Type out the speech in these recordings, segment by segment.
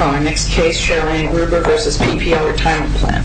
Our next case, Sherri Ann Gruber v. PPLRetirement Plan.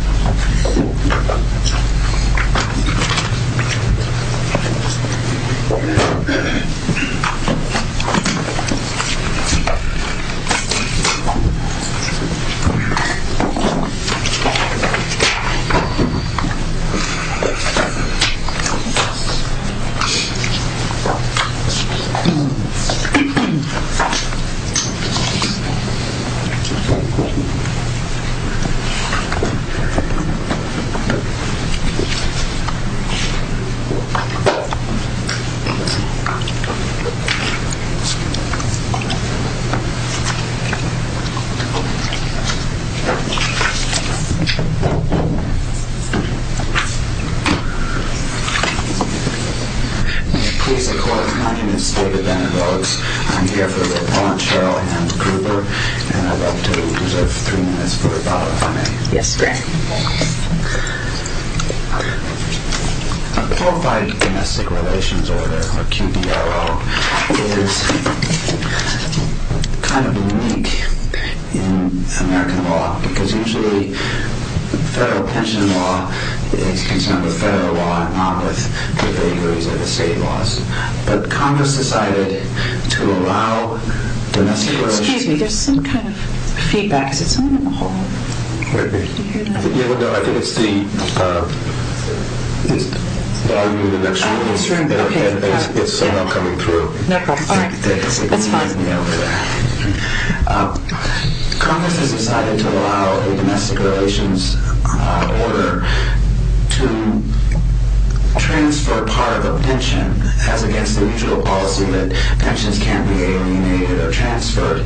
My name is David Bennett-Rogues, I'm here for the appellant, Sherri Ann Gruber. And I'd love to reserve three minutes for a follow-up, if I may. Yes, sir. A Qualified Domestic Relations Order, or QDRO, is kind of unique in American law, because usually federal pension law is concerned with federal law, not with the vagaries of the state laws. But Congress decided to allow domestic relations... Excuse me, there's some kind of feedback. Is it someone in the hall? Wait a minute. Can you hear that? No, I think it's the volume of the next room. Oh, this room. Okay. It's somehow coming through. No problem. All right. That's fine. Congress has decided to allow a domestic relations order to transfer part of a pension as against the mutual policy that pensions can be alienated or transferred.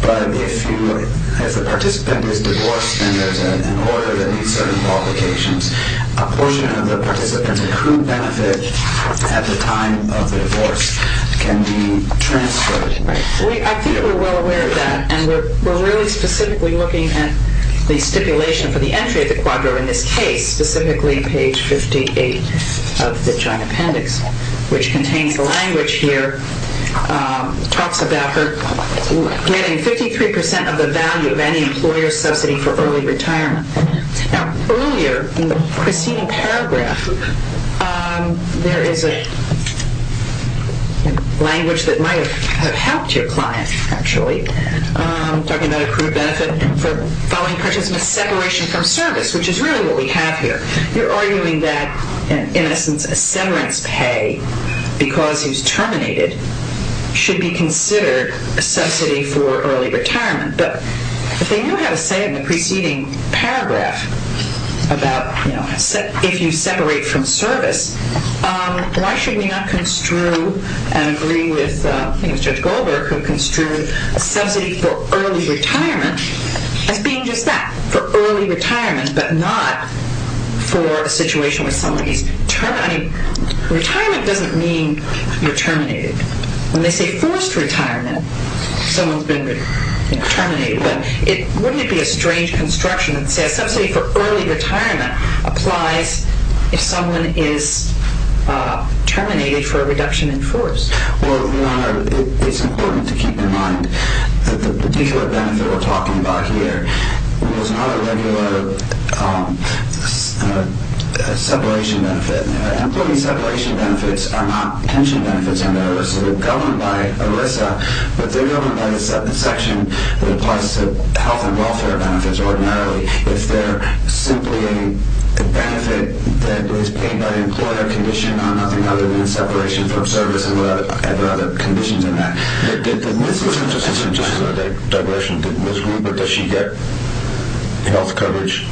But if the participant is divorced and there's an order that needs certain qualifications, a portion of the participant's accrued benefit at the time of the divorce can be transferred. I think we're well aware of that, and we're really specifically looking at the stipulation for the entry of the QUADRO in this case, specifically page 58 of the joint appendix, which contains the language here. It talks about her getting 53% of the value of any employer subsidy for early retirement. Now, earlier in the pristine paragraph, there is a language that might have helped your client, actually, talking about accrued benefit, for following a participant's separation from service, which is really what we have here. You're arguing that, in essence, a severance pay because he's terminated should be considered a subsidy for early retirement. But if they knew how to say it in the preceding paragraph about if you separate from service, why should we not construe and agree with Judge Goldberg, who construed a subsidy for early retirement as being just that, for early retirement, but not for a situation where someone is terminated. Retirement doesn't mean you're terminated. When they say forced retirement, someone's been terminated. Wouldn't it be a strange construction that says a subsidy for early retirement applies if someone is terminated for a reduction in force? Well, Your Honor, it's important to keep in mind that the particular benefit we're talking about here was not a regular separation benefit. Employee separation benefits are not pension benefits under ERISA. They're governed by ERISA, but they're governed by the section that applies to health and welfare benefits, ordinarily. If they're simply a benefit that is paid by the employer, condition on nothing other than separation from service and whatever other conditions in that. Just as a digression, did Ms. Rupert, does she get health coverage?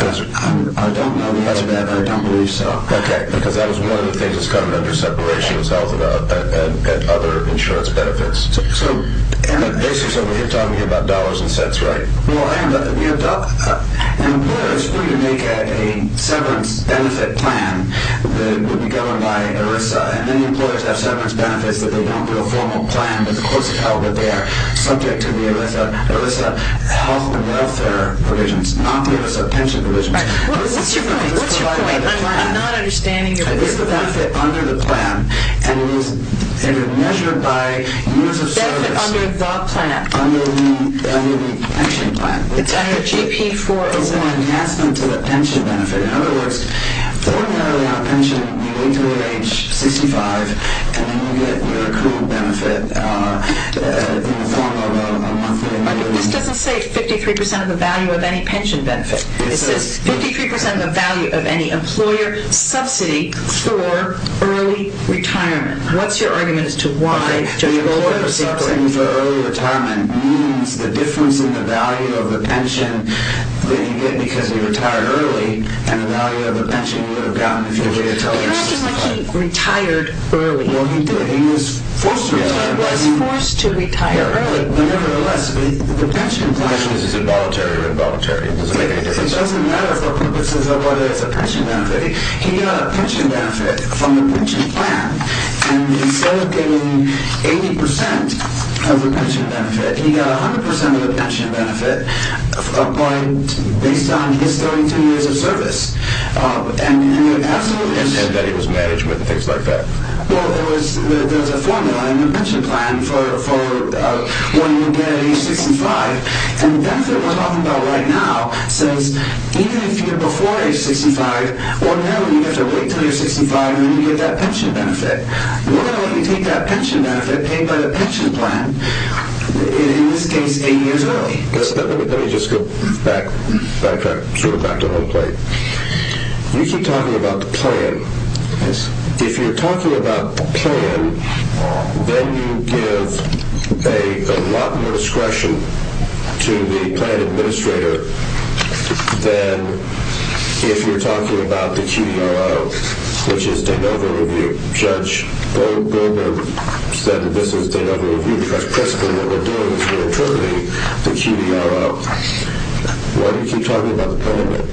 I don't know the answer to that, but I don't believe so. Okay, because that was one of the things that's covered under separation is health and other insurance benefits. So basically, you're talking about dollars and cents, right? Well, I am. An employer is free to make a severance benefit plan that would be governed by ERISA, and then employers have severance benefits that they don't do a formal plan, but the courts have held that they are subject to the ERISA health and welfare provisions, not the ERISA pension provisions. What's your point? What's your point? I'm not understanding your point. It's the benefit under the plan, and it is measured by years of service. Benefit under the plan. Under the pension plan. It's under GP 401. It's an enhancement to the pension benefit. In other words, formally on a pension, you wait until you're age 65, and then you get your accrued benefit in the form of a monthly benefit. This doesn't say 53% of the value of any pension benefit. It says 53% of the value of any employer subsidy for early retirement. What's your argument as to why? The employer subsidy for early retirement means the difference in the value of the pension that you get because you retire early and the value of the pension you would have gotten if you had waited until age 65. But you're asking like he retired early. Well, he did. He was forced to retire. He was forced to retire early. Nevertheless, the pension plan is involuntary or involuntary. It doesn't matter for purposes of whether it's a pension benefit. He got a pension benefit from the pension plan, and instead of getting 80% of the pension benefit, he got 100% of the pension benefit based on his 32 years of service. And that he was management and things like that. Well, there was a formula in the pension plan for when you get age 65, and the benefit we're talking about right now says even if you're before age 65, or no, you have to wait until you're 65 and then you get that pension benefit. Well, you take that pension benefit paid by the pension plan, in this case, eight years early. Let me just go back to the whole point. You keep talking about the plan. If you're talking about the plan, then you give a lot more discretion to the plan administrator than if you're talking about the QDRO, which is de novo review. Judge Goldberg said this is de novo review because the principle that we're doing is we're interpreting the QDRO. Why do you keep talking about the plan?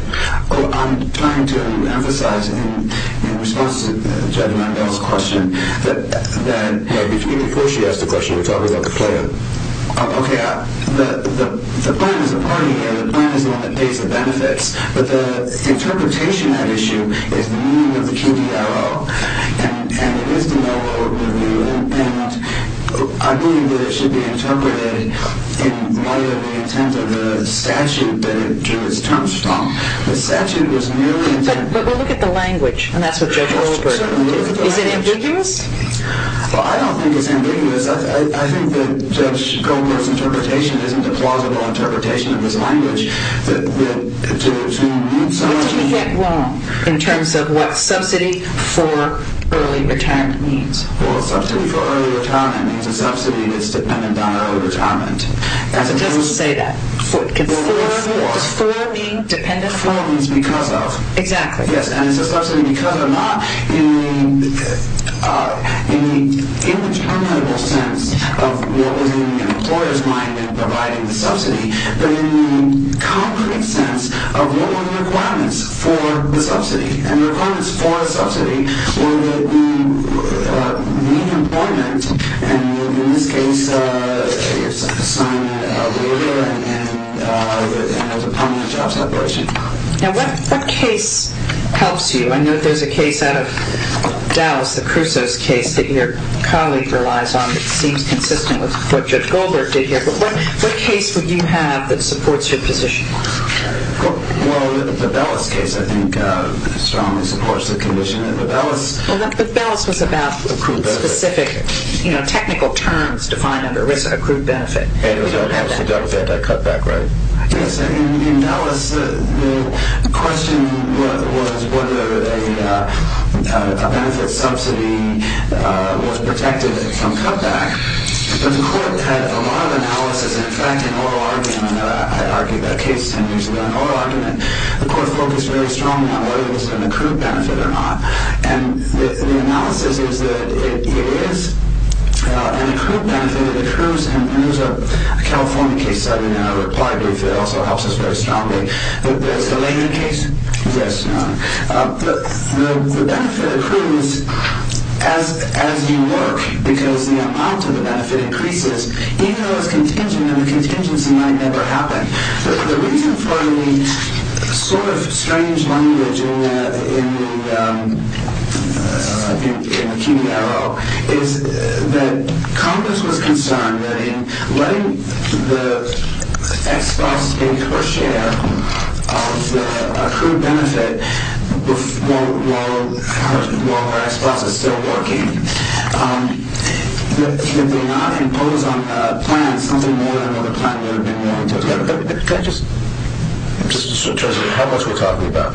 Well, I'm trying to emphasize in response to Judge Randall's question that... No, before she asked the question, you're talking about the plan. Okay, the plan is a party, and the plan is the one that pays the benefits. But the interpretation at issue is the meaning of the QDRO, and it is de novo review. I believe that it should be interpreted in light of the intent of the statute that it drew its terms from. The statute was merely intended... But we'll look at the language, and that's what Judge Goldberg alluded to. Is it ambiguous? Well, I don't think it's ambiguous. I think that Judge Goldberg's interpretation isn't a plausible interpretation of his language. What did he get wrong in terms of what subsidy for early retirement means? Well, subsidy for early retirement means a subsidy that's dependent on early retirement. It doesn't say that. Does for mean dependent upon? For means because of. Exactly. Yes, and it's a subsidy because of not in the interminable sense of what is in the employer's mind in providing the subsidy, and the requirements for a subsidy were that you meet employment, and in this case, you're assigned a laborer and there's a prominent job separation. Now, what case helps you? I know there's a case out of Dallas, the Crusoe's case, that your colleague relies on that seems consistent with what Judge Goldberg did here. But what case would you have that supports your position? Well, the Dallas case, I think, strongly supports the condition that the Dallas. Well, but Dallas was about specific technical terms defined under risk-accrued benefit. And it was a cutback, right? Yes. In Dallas, the question was whether a benefit subsidy was protected from cutback. But the court had a lot of analysis. In fact, in oral argument, I argued that case ten years ago in oral argument, the court focused very strongly on whether it was an accrued benefit or not. And the analysis is that it is an accrued benefit. It accrues, and there's a California case study in our reply brief that also helps us very strongly. There's the Laney case. Yes. The benefit accrues as you work because the amount of the benefit increases. Even though it's contingent, the contingency might never happen. The reason for the sort of strange language in the keynote arrow is that Congress was concerned that in letting the ex-boss take her share of the accrued benefit while her ex-boss is still working, they did not impose on plans something more than what the plan would have been willing to do. Can I just, just in terms of how much we're talking about,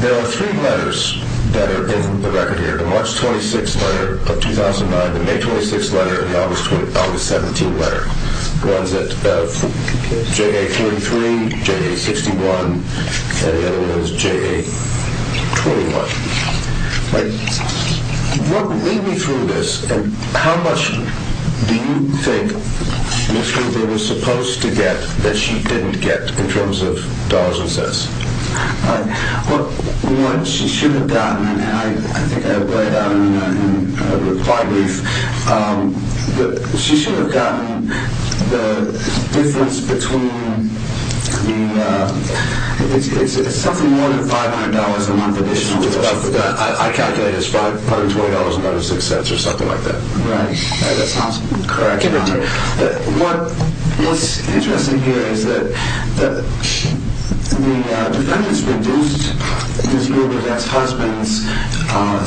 there are three letters that are in the record here, the March 26th letter of 2009, the May 26th letter, and the August 17th letter. One's at JA-33, JA-61, and the other one is JA-21. Lead me through this. How much do you think Ms. Hoover was supposed to get that she didn't get in terms of dollars and cents? Well, one, she should have gotten, and I think I read in a reply brief, that she should have gotten the difference between, I mean, it's something more than $500 a month additional. I calculated it as probably $20.06 or something like that. Right. That's not correct. What's interesting here is that the defendants reduced Ms. Hoover's ex-husband's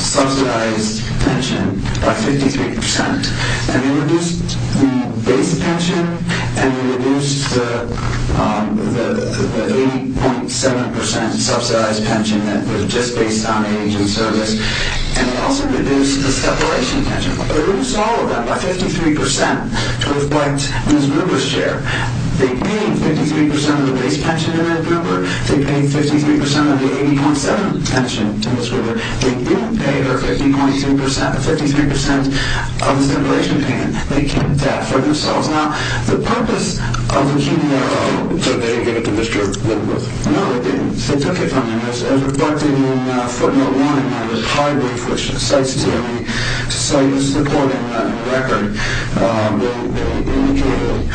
subsidized pension by 53%, and they reduced the base pension, and they reduced the 80.7% subsidized pension that was just based on age and service, and they also reduced the separation pension. They reduced all of that by 53% to reflect Ms. Hoover's share. They paid 53% of the base pension to Ms. Hoover. They paid 53% of the 80.7% pension to Ms. Hoover. They didn't pay her 53% of the separation pension. They kept that for themselves. Now, the purpose of the human error... So they didn't give it to Mr. Woodworth? No, they didn't. They took it from him. It was reflected in footnote one of the party brief, which cites the court in the record. They indicated,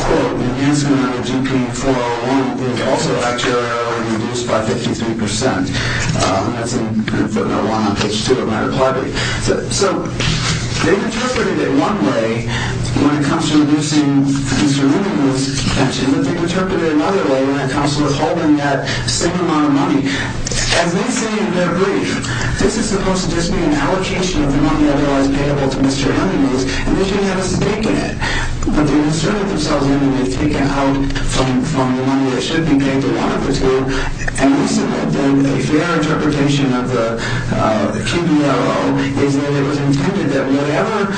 quote, the enhancement of GP 401 was also actuarially reduced by 53%, and that's in footnote one on page two of my party brief. So they interpreted it one way when it comes to reducing Mr. Woodworth's pension, but they interpreted it another way when it comes to withholding that same amount of money. As they say in their brief, this is supposed to just be an allocation of the money otherwise payable to Mr. Hemingway's, and they shouldn't have a stake in it. But they inserted themselves in and they've taken out from the money that should be paid to one of the two, and a fair interpretation of the KBRO is that it was intended that whatever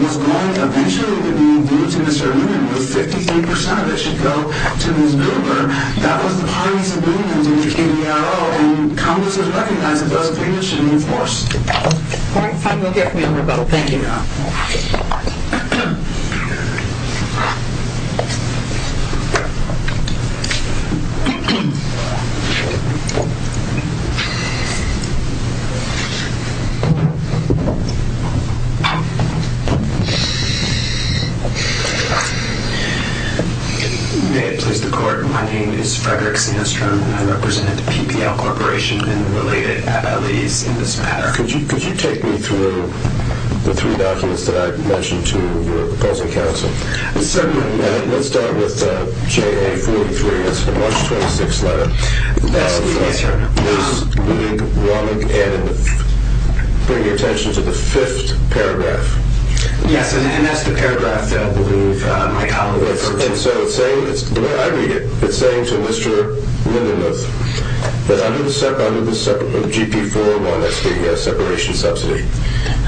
was going eventually to be due to Mr. Hemingway with 53% of it should go to his billboard. That was the parties agreement in the KBRO, and Congress has recognized that those agreements should be enforced. Thank you. Thank you. Yeah. May it please the court. My name is Frederick Sandstrom, and I represent the PPL Corporation and related abilities in this matter. Could you take me through the three documents that I mentioned to your opposing counsel? Certainly. Let's start with JA43. That's the March 26th letter. Yes, sir. Ms. Leib, Romick, and bring your attention to the fifth paragraph. Yes, and that's the paragraph that I believe my colleague referred to. And so it's saying, the way I read it, it's saying to Mr. Lindenluth that under the GP401, that's the separation subsidy,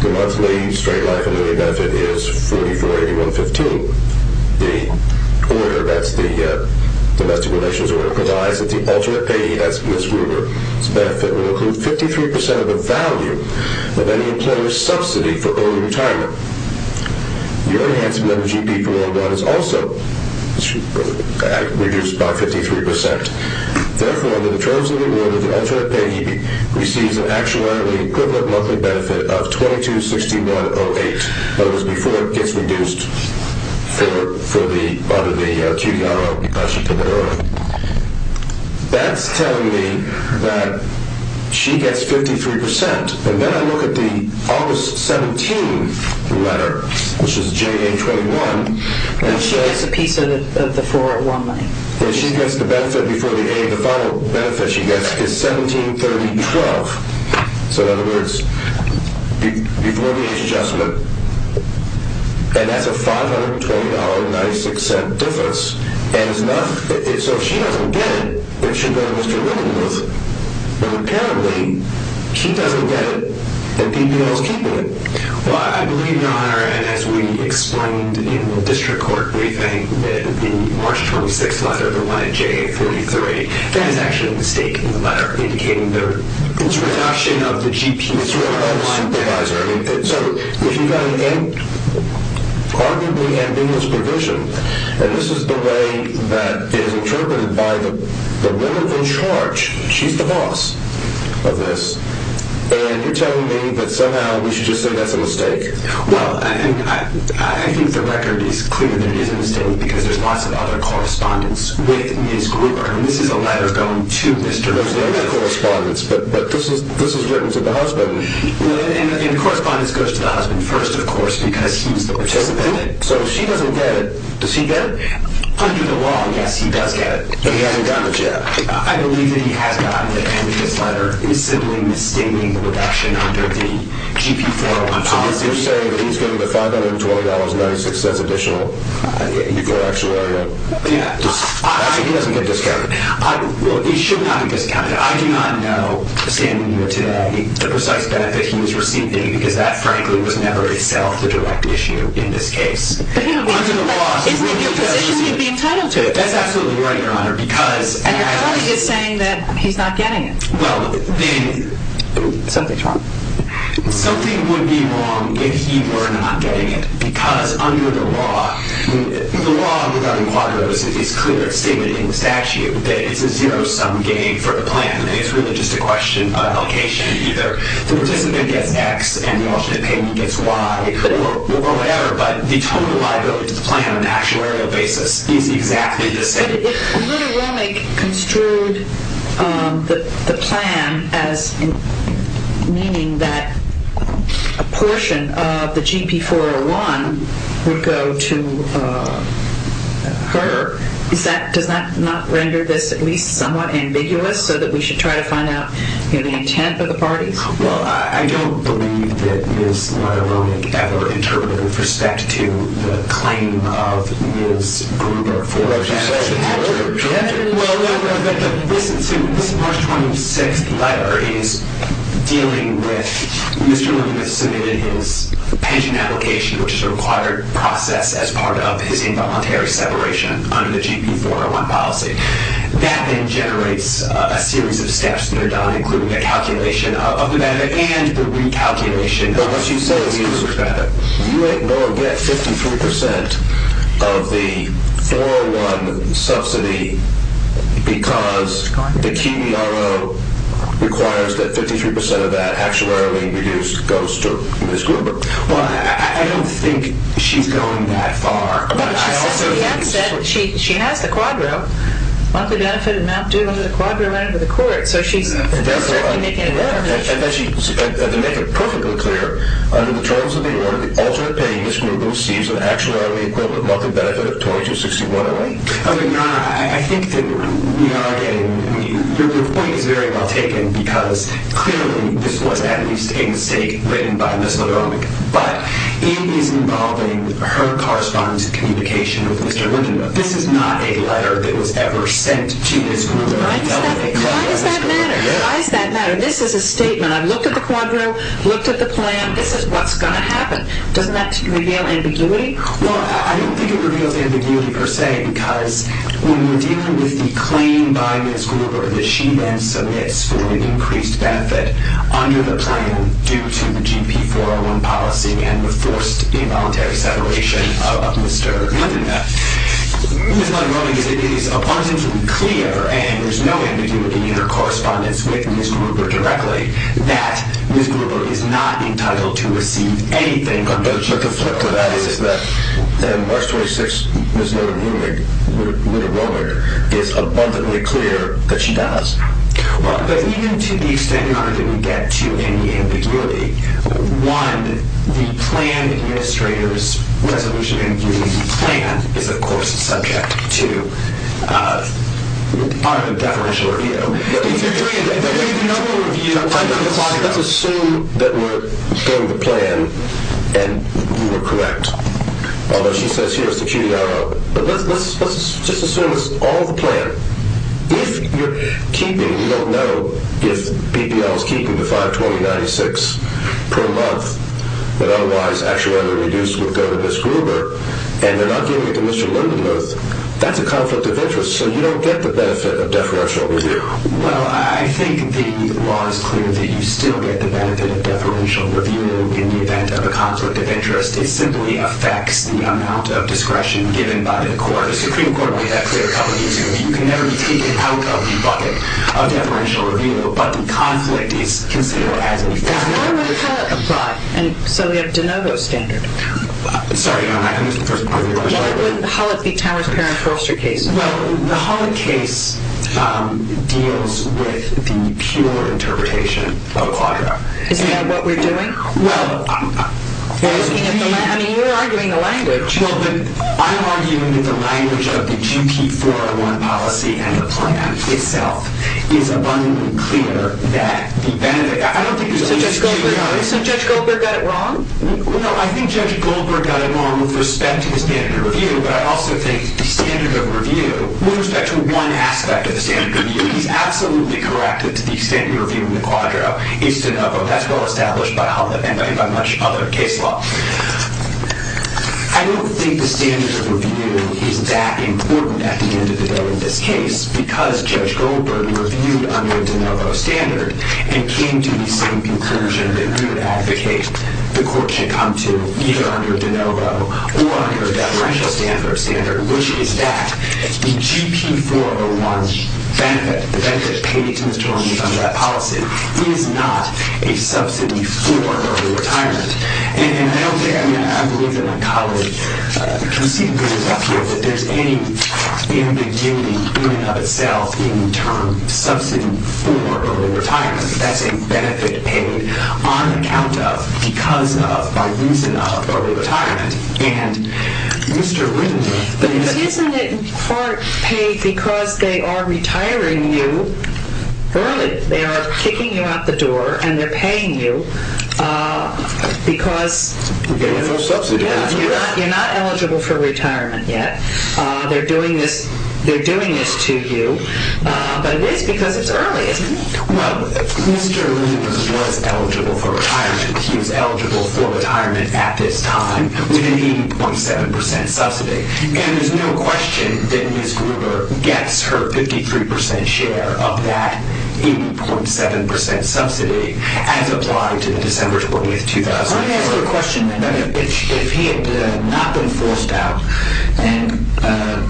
the monthly straight life and living benefit is 44.8115. The order, that's the domestic relations order, provides that the alternate payee, that's Ms. Gruber's benefit, will include 53% of the value of any employer's subsidy for early retirement. Your enhancement of the GP401 is also reduced by 53%. Therefore, the terms of the order, the alternate payee receives an actuarially equivalent monthly benefit of 226108. That was before it gets reduced for the, under the QDRO. That's telling me that she gets 53%. And then I look at the August 17th letter, which is JA21. She gets a piece of the 401 money. She gets the benefit before the A. The final benefit she gets is 173012. So in other words, before the age adjustment, and that's a $520.96 difference. And so if she doesn't get it, it should go to Mr. Lindenluth. But apparently, she doesn't get it, and BBL is keeping it. Well, I believe, Your Honor, and as we explained in the district court briefing, that the March 26th letter, the one at JA33, that is actually a mistake in the letter, indicating the reduction of the GP401. It's a reduction of the supervisor. So if you've got an arguably ambiguous provision, and this is the way that it is interpreted by the woman in charge. She's the boss of this, and you're telling me that somehow we should just say that's a mistake. Well, I think the record is clear that it is a mistake because there's lots of other correspondence with Ms. Gruber, and this is a letter going to Mr. Lindenluth. There's other correspondence, but this was written to the husband. And the correspondence goes to the husband first, of course, because he's the participant. So if she doesn't get it, does he get it? Under the law, yes, he does get it. But he hasn't gotten it yet. I believe that he has gotten it, and this letter is simply misstating the reduction under the GP401 policy. So you're saying that he's getting the $520.96 additional equal actuarial? Yeah. So he doesn't get discounted. Well, he should not be discounted. I do not know, standing here today, the precise benefit he was receiving because that, frankly, was never itself a direct issue in this case. But isn't it your position he'd be entitled to it? That's absolutely right, Your Honor. And your colleague is saying that he's not getting it. Well, then something would be wrong if he were not getting it because under the law, the law without enquadros is clear. It's stated in the statute that it's a zero-sum game for the plan, and it's really just a question of location either. The participant gets X, and the alternate payment gets Y, or whatever, but the total liability to the plan on an actuarial basis is exactly the same. But if Lula Romick construed the plan as meaning that a portion of the GP401 would go to her, does that not render this at least somewhat ambiguous so that we should try to find out, you know, the intent of the parties? Well, I don't believe that Ms. Lula Romick ever interpreted with respect to the claim of Ms. Gruber for an actuarial purpose. But listen to this March 26th letter. It is dealing with Mr. Lula has submitted his pension application, which is a required process as part of his involuntary separation under the GP401 policy. That then generates a series of steps that are done, including the calculation of the benefit and the recalculation of Ms. Gruber's benefit. But what she's saying is that you ain't going to get 53% of the 401 subsidy because the QBRO requires that 53% of that actuarially reduced goes to Ms. Gruber. Well, I don't think she's going that far. She has the QBRO. Monthly benefit amount due under the QBRO went into the court. So she's certainly making it there. And to make it perfectly clear, under the terms of the order, the alternate pay Ms. Gruber receives an actuarially equivalent monthly benefit of $2261.08. I think that we are getting—the point is very well taken because clearly this was at least a mistake written by Ms. Lula Romick. But it is involving her correspondence and communication with Mr. Lindenberg. This is not a letter that was ever sent to Ms. Gruber. Why does that matter? Why does that matter? This is a statement. I've looked at the QBRO, looked at the plan. This is what's going to happen. Doesn't that reveal ambiguity? Well, I don't think it reveals ambiguity per se because when you're dealing with the claim by Ms. Gruber that she then submits for an increased benefit under the plan due to the GP401 policy and the forced involuntary separation of Mr. Lindenberg, Ms. Lula Romick is abundantly clear, and there's no ambiguity in her correspondence with Ms. Gruber directly, that Ms. Gruber is not entitled to receive anything under the QBRO. But the flip to that is that March 26th, Ms. Lula Romick is abundantly clear that she does. Well, but even to the extent that I didn't get to any ambiguity, one, the plan administrator's resolution in giving you the plan is, of course, subject to our deferential review. If you're doing a deferential review, I'm talking to the client. Let's assume that we're getting the plan and you were correct, although she says here's the QBRO. But let's just assume it's all of the plan. If you're keeping, you don't know if BPL is keeping the 520.96 per month that otherwise actually would have been reduced with Ms. Gruber, and they're not giving it to Mr. Lindenberg, that's a conflict of interest, so you don't get the benefit of deferential review. Well, I think the law is clear that you still get the benefit of deferential review in the event of a conflict of interest. It simply affects the amount of discretion given by the court. The Supreme Court made that clear a couple of years ago. You can never be taken out of the bucket of deferential review, but the conflict is considered as a conflict of interest. Why would Hallett apply? So we have De Novo standard. Sorry, Your Honor, I missed the first part of your question. Why would Hallett be Towers-Perrin-Foster case? Well, the Hallett case deals with the pure interpretation of Quadra. Isn't that what we're doing? Well, I'm... I mean, you're arguing the language. You know, I'm arguing that the language of the GP401 policy and the plan itself is abundantly clear that the benefit... I don't think there's any... So Judge Goldberg got it wrong? No, I think Judge Goldberg got it wrong with respect to the standard of review, but I also think the standard of review, with respect to one aspect of the standard of review, he's absolutely correct that the standard of review in the Quadra is De Novo. That's well established by Hallett and by much other case law. I don't think the standard of review is that important at the end of the day in this case because Judge Goldberg reviewed under De Novo standard and came to the same conclusion that he would advocate the court should come to either under De Novo or under a deferential standard, which is that the GP401 benefit, the benefit paid to the attorneys under that policy, is not a subsidy for early retirement. And I don't think... I mean, I've lived in a college... You can see the business up here, but there's any ambiguity in and of itself in the term subsidy for early retirement. That's a benefit paid on account of, because of, by reason of early retirement. And Mr. Wittenberg... But isn't it in part paid because they are retiring you early? They are kicking you out the door and they're paying you. Because you're not eligible for retirement yet. They're doing this to you. But it is because it's early, isn't it? Well, Mr. Lewis was eligible for retirement. He was eligible for retirement at this time with an 80.7% subsidy. And there's no question that Ms. Gruber gets her 53% share of that 80.7% subsidy as applied to December 20th, 2004. Let me ask you a question then. If he had not been forced out, and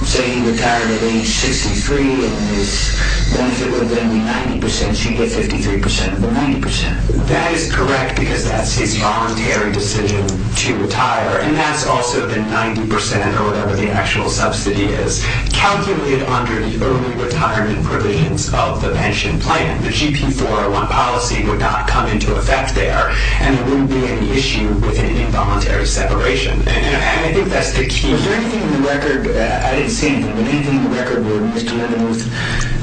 say he retired at age 63 and his benefit was only 90%, should he get 53% of the 90%? That is correct, because that's his voluntary decision to retire. And that's also the 90%, or whatever the actual subsidy is, calculated under the early retirement provisions of the pension plan. The GP 401 policy would not come into effect there, and there wouldn't be any issue with an involuntary separation. And I think that's the key. Is there anything in the record, I didn't see anything, but anything in the record where Mr. Levenworth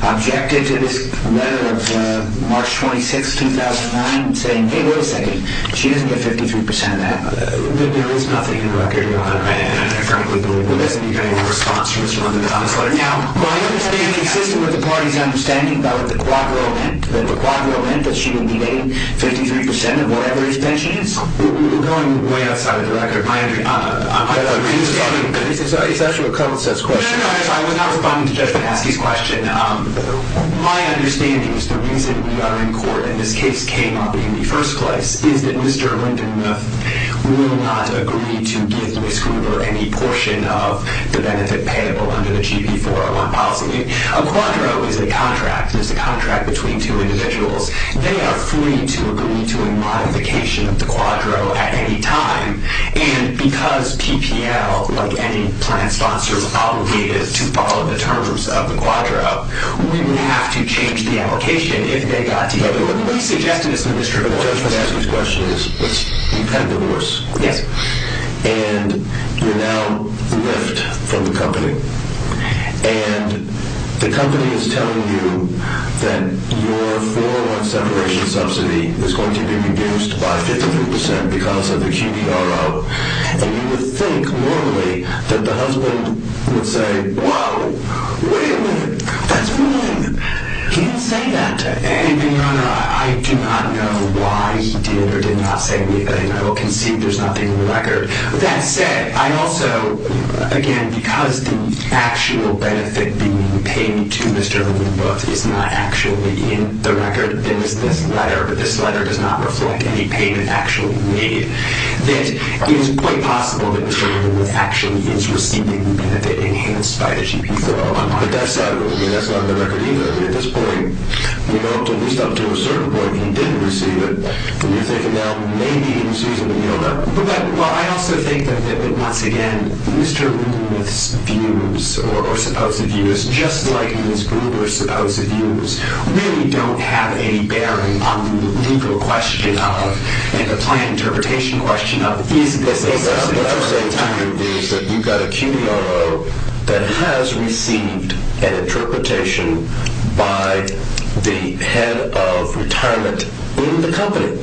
objected to this letter of March 26, 2009, saying, hey, wait a second, she doesn't get 53% of that? There is nothing in the record. And I frankly believe there doesn't need to be any response from Mr. Levenworth on this letter. Now, my understanding is consistent with the party's understanding about the quadro event, that the quadro event that she would be getting 53% of whatever his pension is. We're going way outside of the record. My understanding is that Mr. Levenworth will not agree to give Ms. Gruber any portion of the benefit payable under the GP 401 policy. A quadro is a contract. It's a contract between two individuals. They are free to agree to a modification of the quadro at any time. And because PPL, like any plan sponsor, is obligated to follow the terms of the quadro, we would have to change the application if they got together. We suggested this to Mr. Levenworth. What I'm trying to ask this question is, you've had a divorce. Yes. And you're now left from the company. And the company is telling you that your 401 separation subsidy is going to be reduced by 53% because of the QPRO. And you would think, normally, that the husband would say, whoa, wait a minute, that's wrong. He didn't say that. And, Your Honor, I do not know why he did or did not say anything. I will concede there's nothing in the record. That said, I also, again, because the actual benefit being paid to Mr. Levenworth is not actually in the record, there is this letter, but this letter does not reflect any payment actually made, that it is quite possible that Mr. Levenworth actually is receiving the benefit enhanced by the GP 401. But that's not in the record either. At this point, at least up to a certain point, he didn't receive it. And you're thinking now, maybe he receives it, but you don't know. But I also think that, once again, Mr. Levenworth's views or supposed views, just like Ms. Gruber's supposed views, really don't have any bearing on the legal question of and the planned interpretation question of is this a subsidy. What I'm saying to you is that you've got a CUNY RO that has received an interpretation by the head of retirement in the company.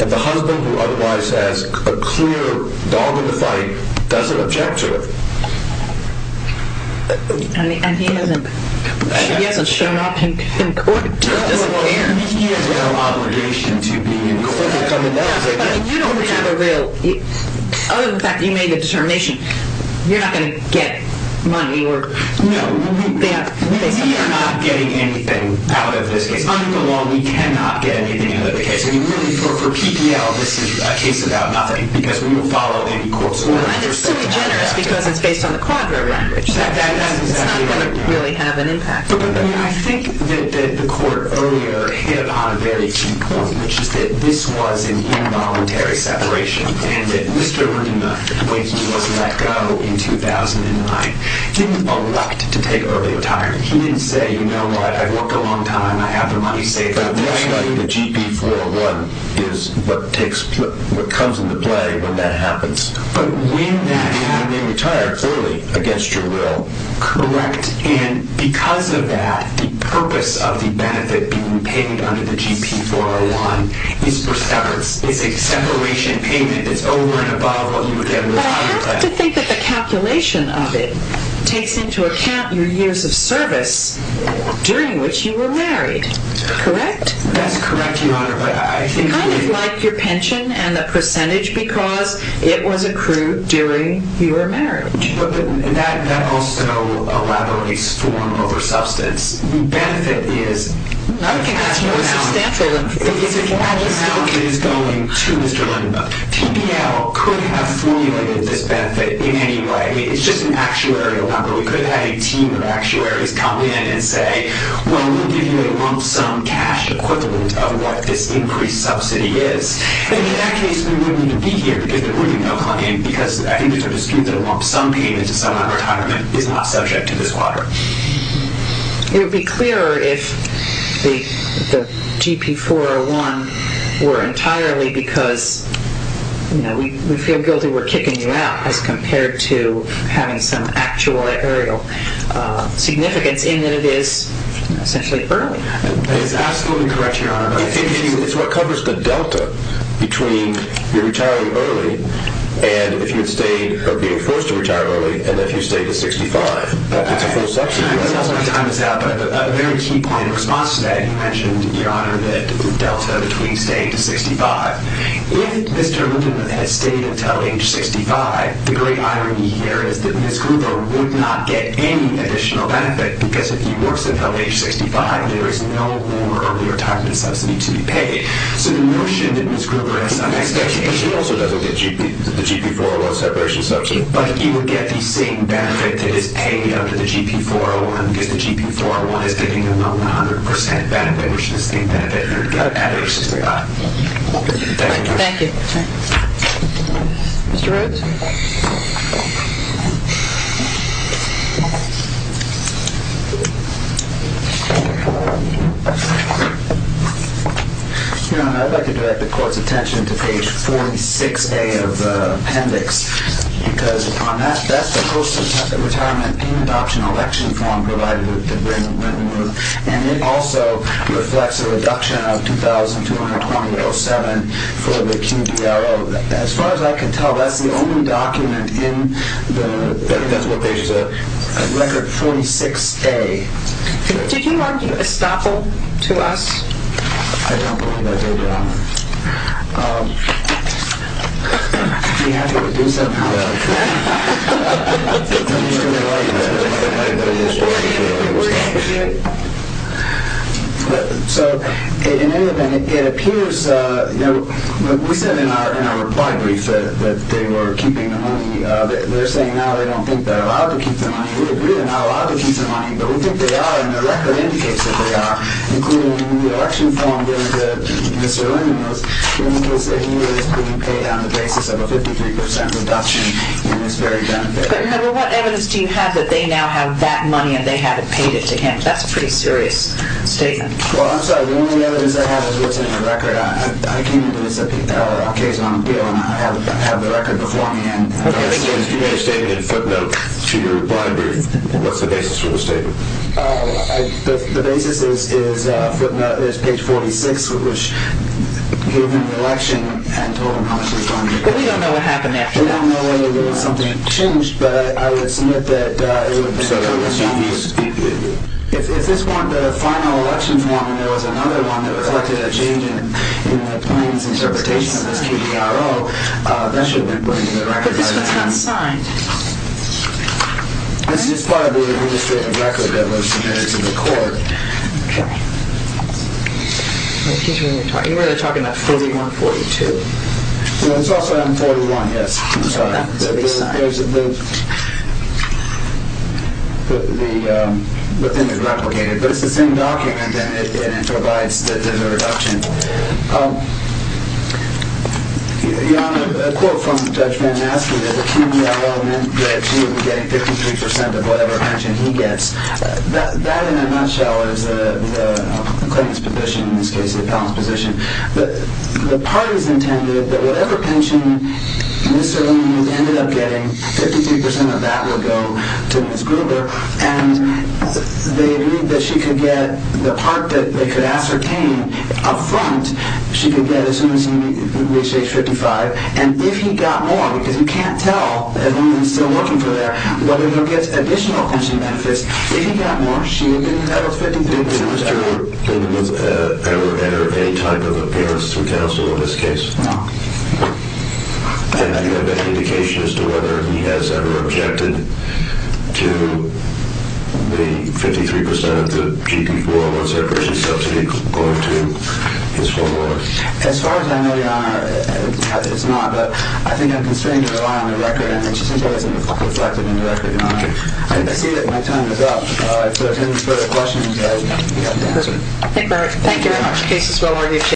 And the husband, who otherwise has a clear dog in the fight, doesn't object to it. And he hasn't shown up in court? He has no obligation to be in court. But you don't have a real, other than the fact that you made the determination, you're not going to get money? No. We are not getting anything out of this case. Under the law, we cannot get anything out of the case. For PPL, this is a case about nothing, because we don't follow any court's order. And it's so generous because it's based on the quadro language. That's exactly right. It's not going to really have an impact. I think that the court earlier hit upon a very key point, which is that this was an involuntary separation. And that Mr. Rooney, when he was let go in 2009, didn't elect to take early retirement. He didn't say, you know what, I've worked a long time, I have the money saved up. The GP 401 is what comes into play when that happens. But when that happens And you may retire, clearly, against your will. Correct. And because of that, the purpose of the benefit being paid under the GP 401 is for severance. It's a separation payment that's over and above what you would get with a retirement plan. But I have to think that the calculation of it takes into account your years of service during which you were married. Correct? That's correct, Your Honor. But I think Kind of like your pension and the percentage, because it was accrued during your marriage. But that also elaborates form over substance. The benefit is I don't think that's more substantial than It's a cash amount that is going to Mr. Lindemann. PBL could have formulated this benefit in any way. I mean, it's just an actuarial number. We could have had a team of actuaries come in and say, well, we'll give you a lump sum cash equivalent of what this increased subsidy is. In that case, we wouldn't need to be here because there wouldn't be enough money in, because I think it's a dispute that a lump sum payment to someone in retirement is not subject to this water. It would be clearer if the GP 401 were entirely because we feel guilty we're kicking you out as compared to having some actual actuarial significance in that it is essentially early. That is absolutely correct, Your Honor. It's what covers the delta between your retirement early and if you had stayed or being forced to retire early. And if you stay to 65, it's a full subsidy. Time is out, but a very key point in response to that. You mentioned, Your Honor, the delta between staying to 65. If Mr. Lindemann has stayed until age 65, the great irony here is that Ms. Gruber would not get any additional benefit because if he works until age 65, there is no more early retirement subsidy to be paid. So the notion that Ms. Gruber has some expectation, but she also doesn't get the GP 401 separation subsidy, but he would get the same benefit that is paid under the GP 401, because the GP 401 is giving him a 100% benefit, which is the benefit he would get at age 65. Thank you, Your Honor. Thank you. Mr. Rhodes? Your Honor, I'd like to direct the Court's attention to page 46A of the appendix, because on that, that's the post-retirement in-adoption election form provided to Ben Lindemann, and it also reflects a reduction of $2,220.07 for the QDRO. As far as I can tell, that's the only document in the record 46A. Did you argue estoppel to us? I don't believe that, Your Honor. We have to do something about it. I'm just going to argue that. So, in any event, it appears, you know, we said in our reply brief that they were keeping the money. They're saying now they don't think they're allowed to keep the money. We agree they're not allowed to keep the money, but we think they are, and the record indicates that they are, including the election form given to Mr. Lindemann, because he is being paid on the basis of a 53% reduction in this very benefit. But, Your Honor, what evidence do you have that they now have that money and they haven't paid it to him? That's a pretty serious statement. Well, I'm sorry, the only evidence I have is what's in the record. I came into this case on a bill, and I have the record before me. Okay. You made a statement in footnote to your reply brief. What's the basis for the statement? The basis is page 46, which gave him the election and told him how much he was going to get. But we don't know what happened after that. We don't know whether there was something changed, but I would submit that it would have been a change. If this one, the final election form, and there was another one that reflected a change in the plaintiff's interpretation of this KDRO, that should have been put in the record by then. But this one's not signed. This is probably the only statement of record that was submitted to the court. Okay. Excuse me, you were talking about 41-42. It's also on 41, yes. I'm sorry. That would be signed. There's the thing that replicated. But it's the same document, and it provides the reduction. A quote from Judge Van Aske that the KDRO meant that she would be getting 53% of whatever pension he gets. That, in a nutshell, is the plaintiff's position, in this case, the appellant's position. The parties intended that whatever pension Mr. Lee ended up getting, 53% of that would go to Ms. Gruber. And they agreed that she could get the part that they could ascertain up front, she could get as soon as he reached age 55. And if he got more, because you can't tell, as long as he's still working for her, whether he'll get additional pension benefits, if he got more, she would be getting the other 53%. Did Mr. Gruber ever enter any type of appearance to counsel in this case? No. And do you have any indication as to whether he has ever objected to the 53% of the GP 401 separation subsidy going to his former wife? As far as I know, Your Honor, it's not. But I think I'm constrained to rely on the record, and it just simply isn't reflected in the record, Your Honor. I see that my time is up. If there are any further questions, I'll be happy to answer. Thank you very much.